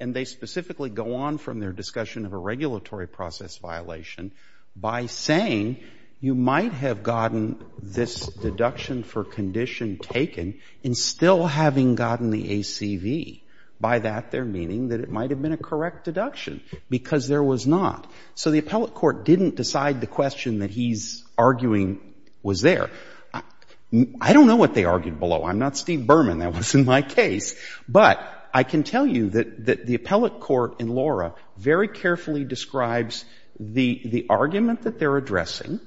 And they specifically go on from their discussion of a regulatory process violation by saying you might have gotten this deduction for condition taken and still having gotten the ACV. By that, they're meaning that it might have been a correct deduction, because there was not. So, the appellate court didn't decide the question that he's arguing was there. I don't know what they argued below. I'm not Steve Berman. That wasn't my case. But I can tell you that the appellate court in Laura very carefully describes the argument that they're addressing.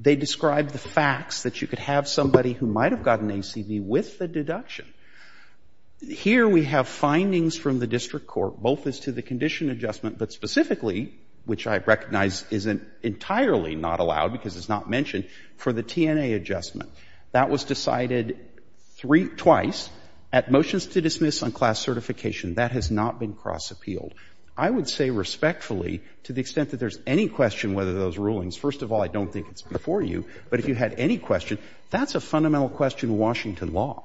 They describe the facts that you could have somebody who might have gotten ACV with the deduction. Here, we have findings from the district court, both as to the condition adjustment, but specifically, which I recognize is entirely not allowed because it's not mentioned, for the TNA adjustment. That was decided three, twice, at motions to dismiss on class certification. That has not been cross-appealed. I would say respectfully, to the extent that there's any question whether those rulings — first of all, I don't think it's before you, but if you had any question, that's a fundamental question in Washington law.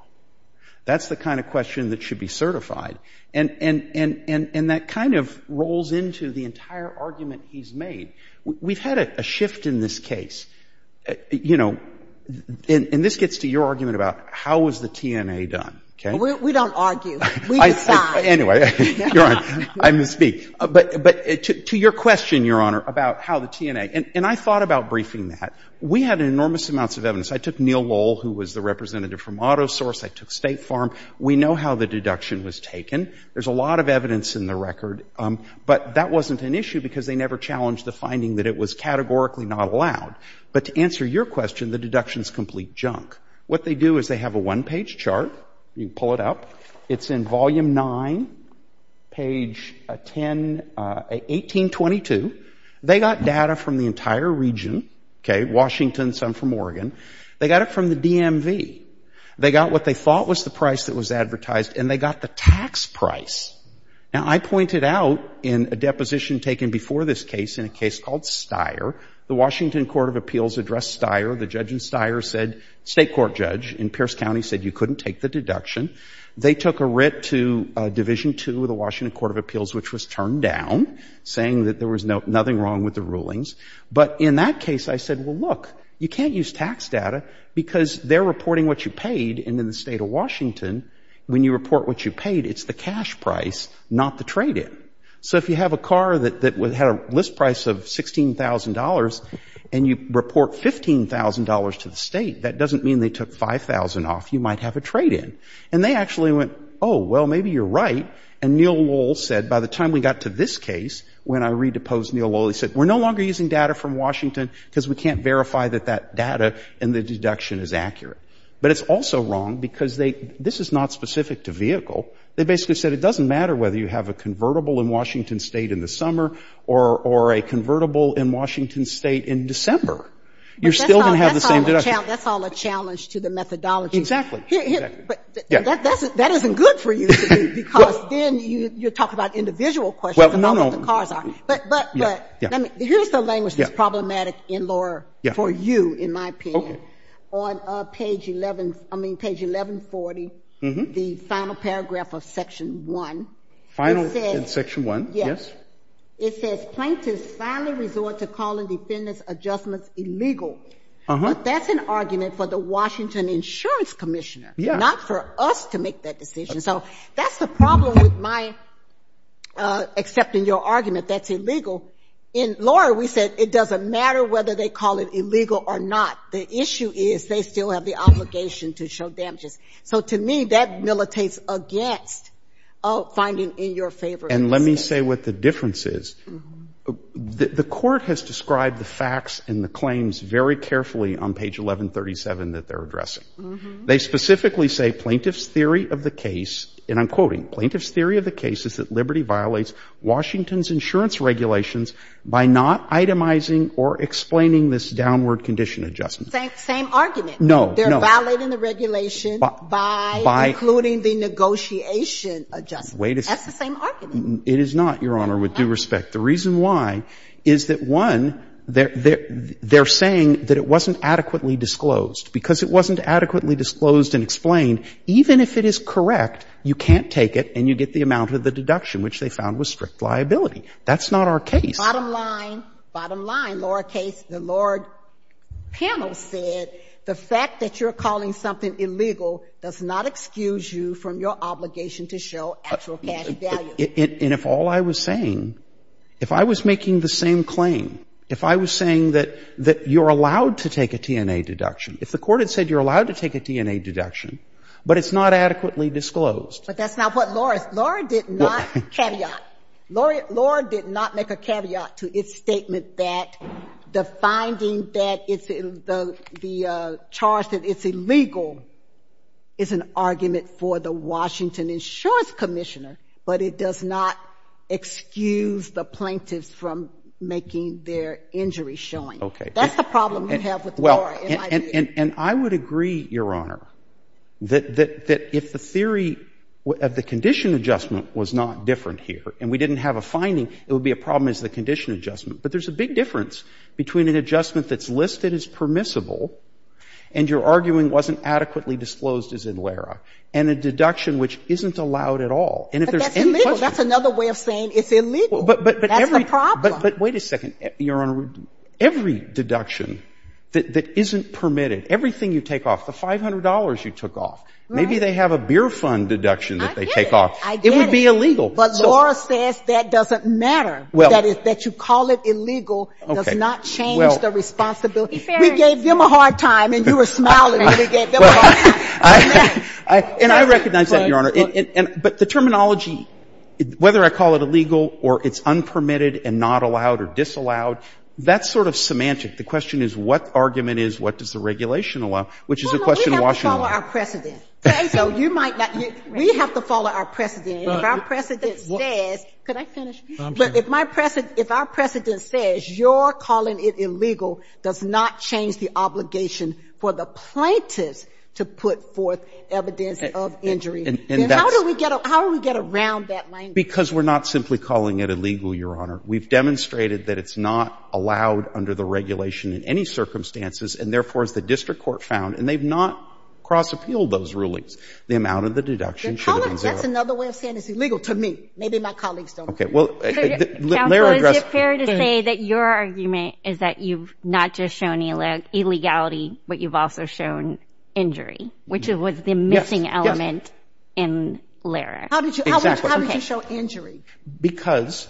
That's the kind of question that should be certified. And that kind of rolls into the entire argument he's made. We've had a shift in this case. You know, and this gets to your argument about how was the TNA done, okay? We don't argue. We decide. Anyway, Your Honor, I misspeak. But to your question, Your Honor, about how the TNA — and I thought about briefing that. We had enormous amounts of evidence. I took Neil Lowell, who was the representative from AutoSource. I took State Farm. We know how the deduction was taken. There's a lot of evidence in the record. But that wasn't an issue because they never challenged the finding that it was categorically not allowed. But to answer your question, the deductions complete junk. What they do is they have a one-page chart. You pull it up. It's in Volume 9, page 10 — 1822. They got data from the entire region, okay, Washington, some from Oregon. They got it from the DMV. They got what they thought was the price that was advertised, and they got the tax price. Now, I pointed out in a deposition taken before this case, in a case called Steyer, the Washington Court of Appeals addressed Steyer. The judge in Steyer said — state court judge in Pierce County said you couldn't take the deduction. They took a writ to Division 2 of the Washington Court of Appeals, which was turned down, saying that there was nothing wrong with the rulings. But in that case, I said, well, look, you can't use tax data because they're reporting what you paid. And in the state of Washington, when you report what you paid, it's the cash price, not the trade-in. So if you have a car that had a list price of $16,000 and you report $15,000 to the state, that doesn't mean they took $5,000 off. You might have a trade-in. And they actually went, oh, well, maybe you're right. And Neil Lowell said, by the time we got to this case, when I redeposed Neil Lowell, he said, we're no longer using data from Washington because we can't verify that that data in the deduction is accurate. But it's also wrong because they — this is not specific to vehicle. They basically said it doesn't matter whether you have a convertible in Washington state in the summer or a convertible in Washington state in December. You're still going to have the same deduction. But that's all a challenge to the methodology. Exactly. Exactly. But that isn't good for you, Steve, because then you're talking about individual questions and not what the cars are. Well, no, no. But — but — but — let me — here's the language that's problematic in law for you, in my opinion. Okay. I have a paragraph on page 11 — I mean, page 1140, the final paragraph of Section 1. It says — Final in Section 1? Yes. Yes. It says, plaintiffs finally resort to calling defendants' adjustments illegal. Uh-huh. But that's an argument for the Washington Insurance Commissioner — Yeah. — not for us to make that decision. So that's the problem with my accepting your argument that's illegal. In law, we said it doesn't matter whether they call it illegal or not. The issue is they still have the obligation to show damages. So to me, that militates against finding in your favor — And let me say what the difference is. The Court has described the facts and the claims very carefully on page 1137 that they're addressing. Uh-huh. They specifically say plaintiff's theory of the case — and I'm quoting — plaintiff's theory of the case is that Liberty violates Washington's insurance regulations by not Same argument. No. No. They're violating the regulation by — By — Including the negotiation adjustment. Wait a second. That's the same argument. It is not, Your Honor, with due respect. The reason why is that, one, they're saying that it wasn't adequately disclosed. Because it wasn't adequately disclosed and explained, even if it is correct, you can't take it and you get the amount of the deduction, which they found was strict liability. That's not our case. Bottom line, bottom line, lowercase, the lower panel said the fact that you're calling something illegal does not excuse you from your obligation to show actual cash value. And if all I was saying — if I was making the same claim, if I was saying that you're allowed to take a T&A deduction, if the Court had said you're allowed to take a T&A deduction, but it's not adequately disclosed — But that's not what Laura — Laura did not caveat. Laura did not make a caveat to its statement that the finding that it's — the charge that it's illegal is an argument for the Washington insurance commissioner, but it does not excuse the plaintiffs from making their injury showing. Okay. That's the problem you have with Laura, in my view. And I would agree, Your Honor, that if the theory — if the condition adjustment was not different here and we didn't have a finding, it would be a problem as the condition adjustment. But there's a big difference between an adjustment that's listed as permissible and you're arguing wasn't adequately disclosed, as in Laura, and a deduction which isn't allowed at all. And if there's any question — But that's illegal. That's another way of saying it's illegal. That's the problem. But every — but wait a second, Your Honor. Every deduction that isn't permitted, everything you take off, the $500 you took off — Right. Maybe they have a beer fund deduction that they take off. I get it. It would be illegal. But Laura says that doesn't matter, that is, that you call it illegal does not change the responsibility. We gave them a hard time and you were smiling when we gave them a hard time. And I recognize that, Your Honor. But the terminology, whether I call it illegal or it's unpermitted and not allowed or disallowed, that's sort of semantic. The question is what argument is, what does the regulation allow, which is a question of Washington law. Well, no. We have to follow our precedent. Okay? So you might not — we have to follow our precedent. And if our precedent says — could I finish? I'm done. But if my precedent — if our precedent says you're calling it illegal does not change the obligation for the plaintiffs to put forth evidence of injury, then how do we get — how do we get around that language? Because we're not simply calling it illegal, Your Honor. We've demonstrated that it's not allowed under the regulation in any circumstances and therefore as the district court found, and they've not cross-appealed those rulings, the amount of the deduction should have been zero. That's another way of saying it's illegal to me. Maybe my colleagues don't agree. Okay. Well, Lara — Counsel, is it fair to say that your argument is that you've not just shown illegality, but you've also shown injury, which was the missing element in Lara? Yes. Yes. How did you — how did you show injury? Because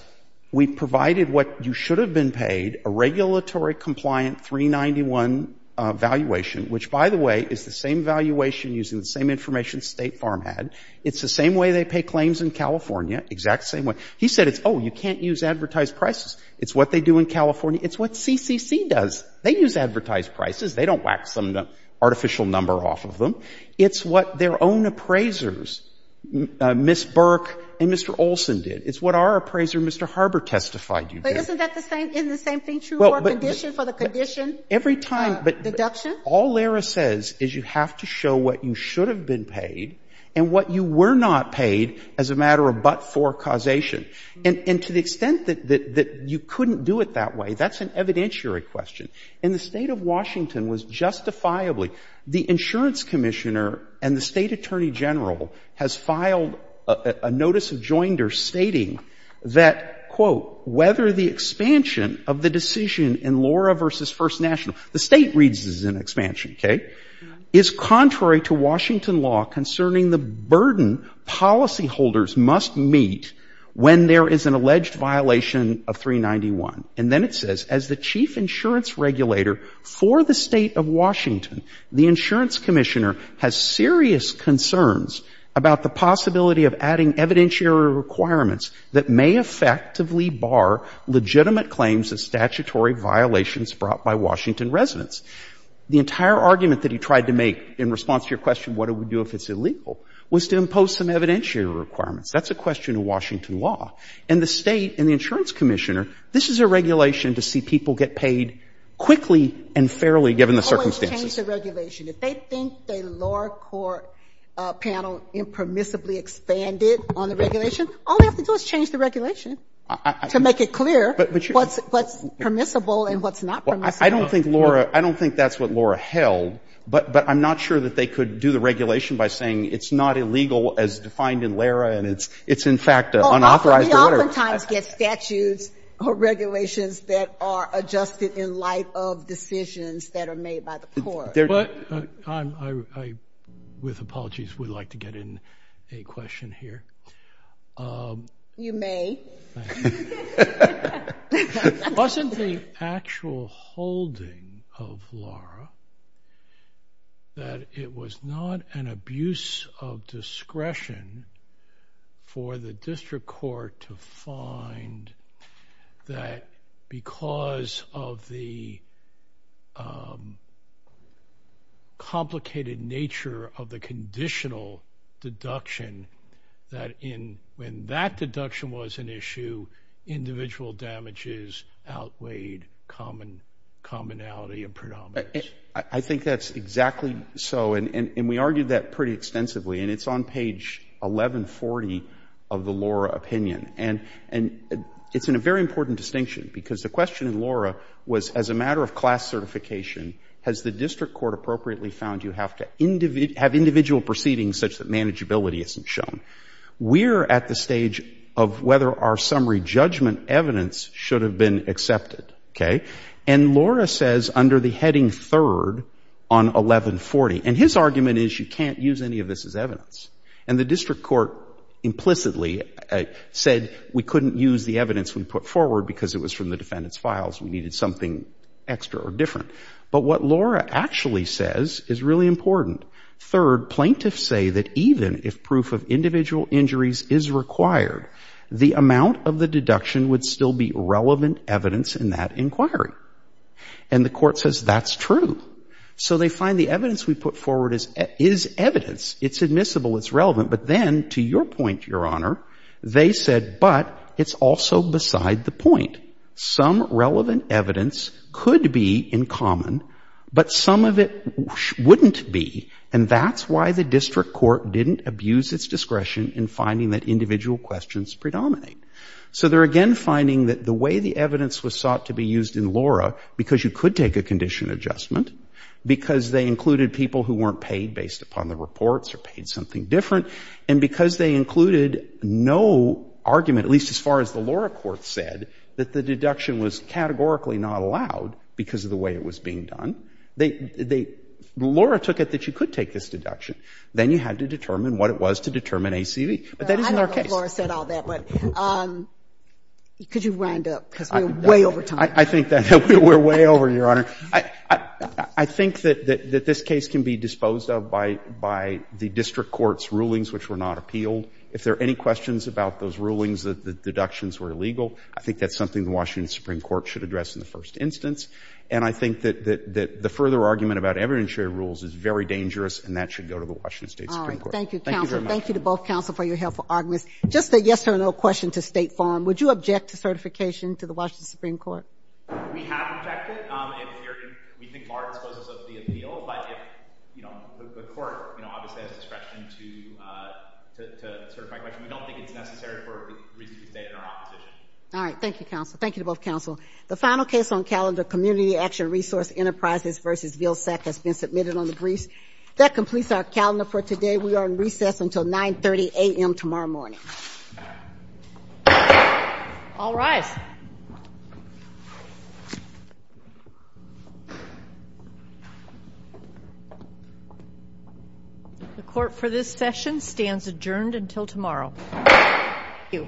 we provided what you should have been paid, a regulatory-compliant 391 valuation, which by the way is the same valuation using the same information State Farm had. It's the same way they pay claims in California, exact same way. He said it's — oh, you can't use advertised prices. It's what they do in California. It's what CCC does. They use advertised prices. They don't wax them an artificial number off of them. It's what their own appraisers, Ms. Burke and Mr. Olson, did. It's what our appraiser, Mr. Harbor, testified you did. But isn't that the same — isn't the same thing true for a condition, for the condition? Every time — Deduction? All Lara says is you have to show what you should have been paid and what you were not paid as a matter of but-for causation. And to the extent that you couldn't do it that way, that's an evidentiary question. And the State of Washington was justifiably — the insurance commissioner and the State Attorney General has filed a notice of joinder stating that, quote, whether the expansion of the decision in Lara v. First National — the State reads this as an expansion, okay — is contrary to Washington law concerning the burden policyholders must meet when there is an alleged violation of 391. And then it says, as the chief insurance regulator for the State of Washington, the insurance commissioner has serious concerns about the possibility of adding evidentiary requirements that may effectively bar legitimate claims of statutory violations brought by Washington residents. The entire argument that he tried to make in response to your question, what do we do if it's illegal, was to impose some evidentiary requirements. That's a question of Washington law. And the State and the insurance commissioner, this is a regulation to see people get paid quickly and fairly given the circumstances. Always change the regulation. If they think the lower court panel impermissibly expanded on the regulation, all they have to do is change the regulation to make it clear what's permissible and what's not permissible. I don't think, Laura — I don't think that's what Laura held, but I'm not sure that they could do the regulation by saying it's not illegal as defined in Lara and it's in fact an unauthorized order. We oftentimes get statutes or regulations that are adjusted in light of decisions that are made by the court. I, with apologies, would like to get in a question here. You may. Thank you. Wasn't the actual holding of Lara that it was not an abuse of discretion for the district court to find that because of the complicated nature of the conditional deduction that when that deduction was an issue, individual damages outweighed commonality and predominance? I think that's exactly so. And we argued that pretty extensively. And it's on page 1140 of the Lara opinion. And it's in a very important distinction because the question in Lara was as a matter of class certification, has the district court appropriately found you have to have individual proceedings such that manageability isn't shown? We're at the stage of whether our summary judgment evidence should have been accepted. Okay? And Laura says under the heading third on 1140 — and his argument is you can't use any of this as evidence. And the district court implicitly said we couldn't use the evidence we put forward because it was from the defendant's files. We needed something extra or different. But what Lara actually says is really important. Third, plaintiffs say that even if proof of individual injuries is required, the amount of the deduction would still be relevant evidence in that inquiry. And the court says that's true. So they find the evidence we put forward is evidence. It's admissible. It's relevant. But then, to your point, Your Honor, they said, but it's also beside the point. Some relevant evidence could be in common, but some of it wouldn't be. And that's why the district court didn't abuse its discretion in finding that individual questions predominate. So they're again finding that the way the evidence was sought to be used in Laura because you could take a condition adjustment, because they included people who weren't paid based upon the reports or paid something different, and because they included no argument, at least as far as the Laura court said, that the deduction was categorically not allowed because of the way it was being done. They — Laura took it that you could take this deduction. Then you had to determine what it was to determine ACV. But that isn't our case. I don't know if Laura said all that, but could you wind up? Because we're way over time. I think that we're way over, Your Honor. I think that this case can be disposed of by the district court's rulings, which were not appealed. If there are any questions about those rulings that the deductions were illegal, I think that's something the Washington Supreme Court should address in the first instance. And I think that the further argument about evidence-sharing rules is very dangerous, and that should go to the Washington State Supreme Court. All right. Thank you, counsel. Thank you very much. Thank you to both counsel for your helpful arguments. Just a yes or no question to State Farm. Would you object to certification to the Washington Supreme Court? We have objected. We think Laura disposes of the appeal, but if — you know, the court, you know, obviously has discretion to certify collection. We don't think it's necessary for it to be stated in our opposition. All right. Thank you, counsel. Thank you to both counsel. The final case on calendar, Community Action Resource Enterprises v. Vilsack, has been submitted on the briefs. That completes our calendar for today. We are on recess until 9.30 a.m. tomorrow morning. All rise. The court for this session stands adjourned until tomorrow. Thank you.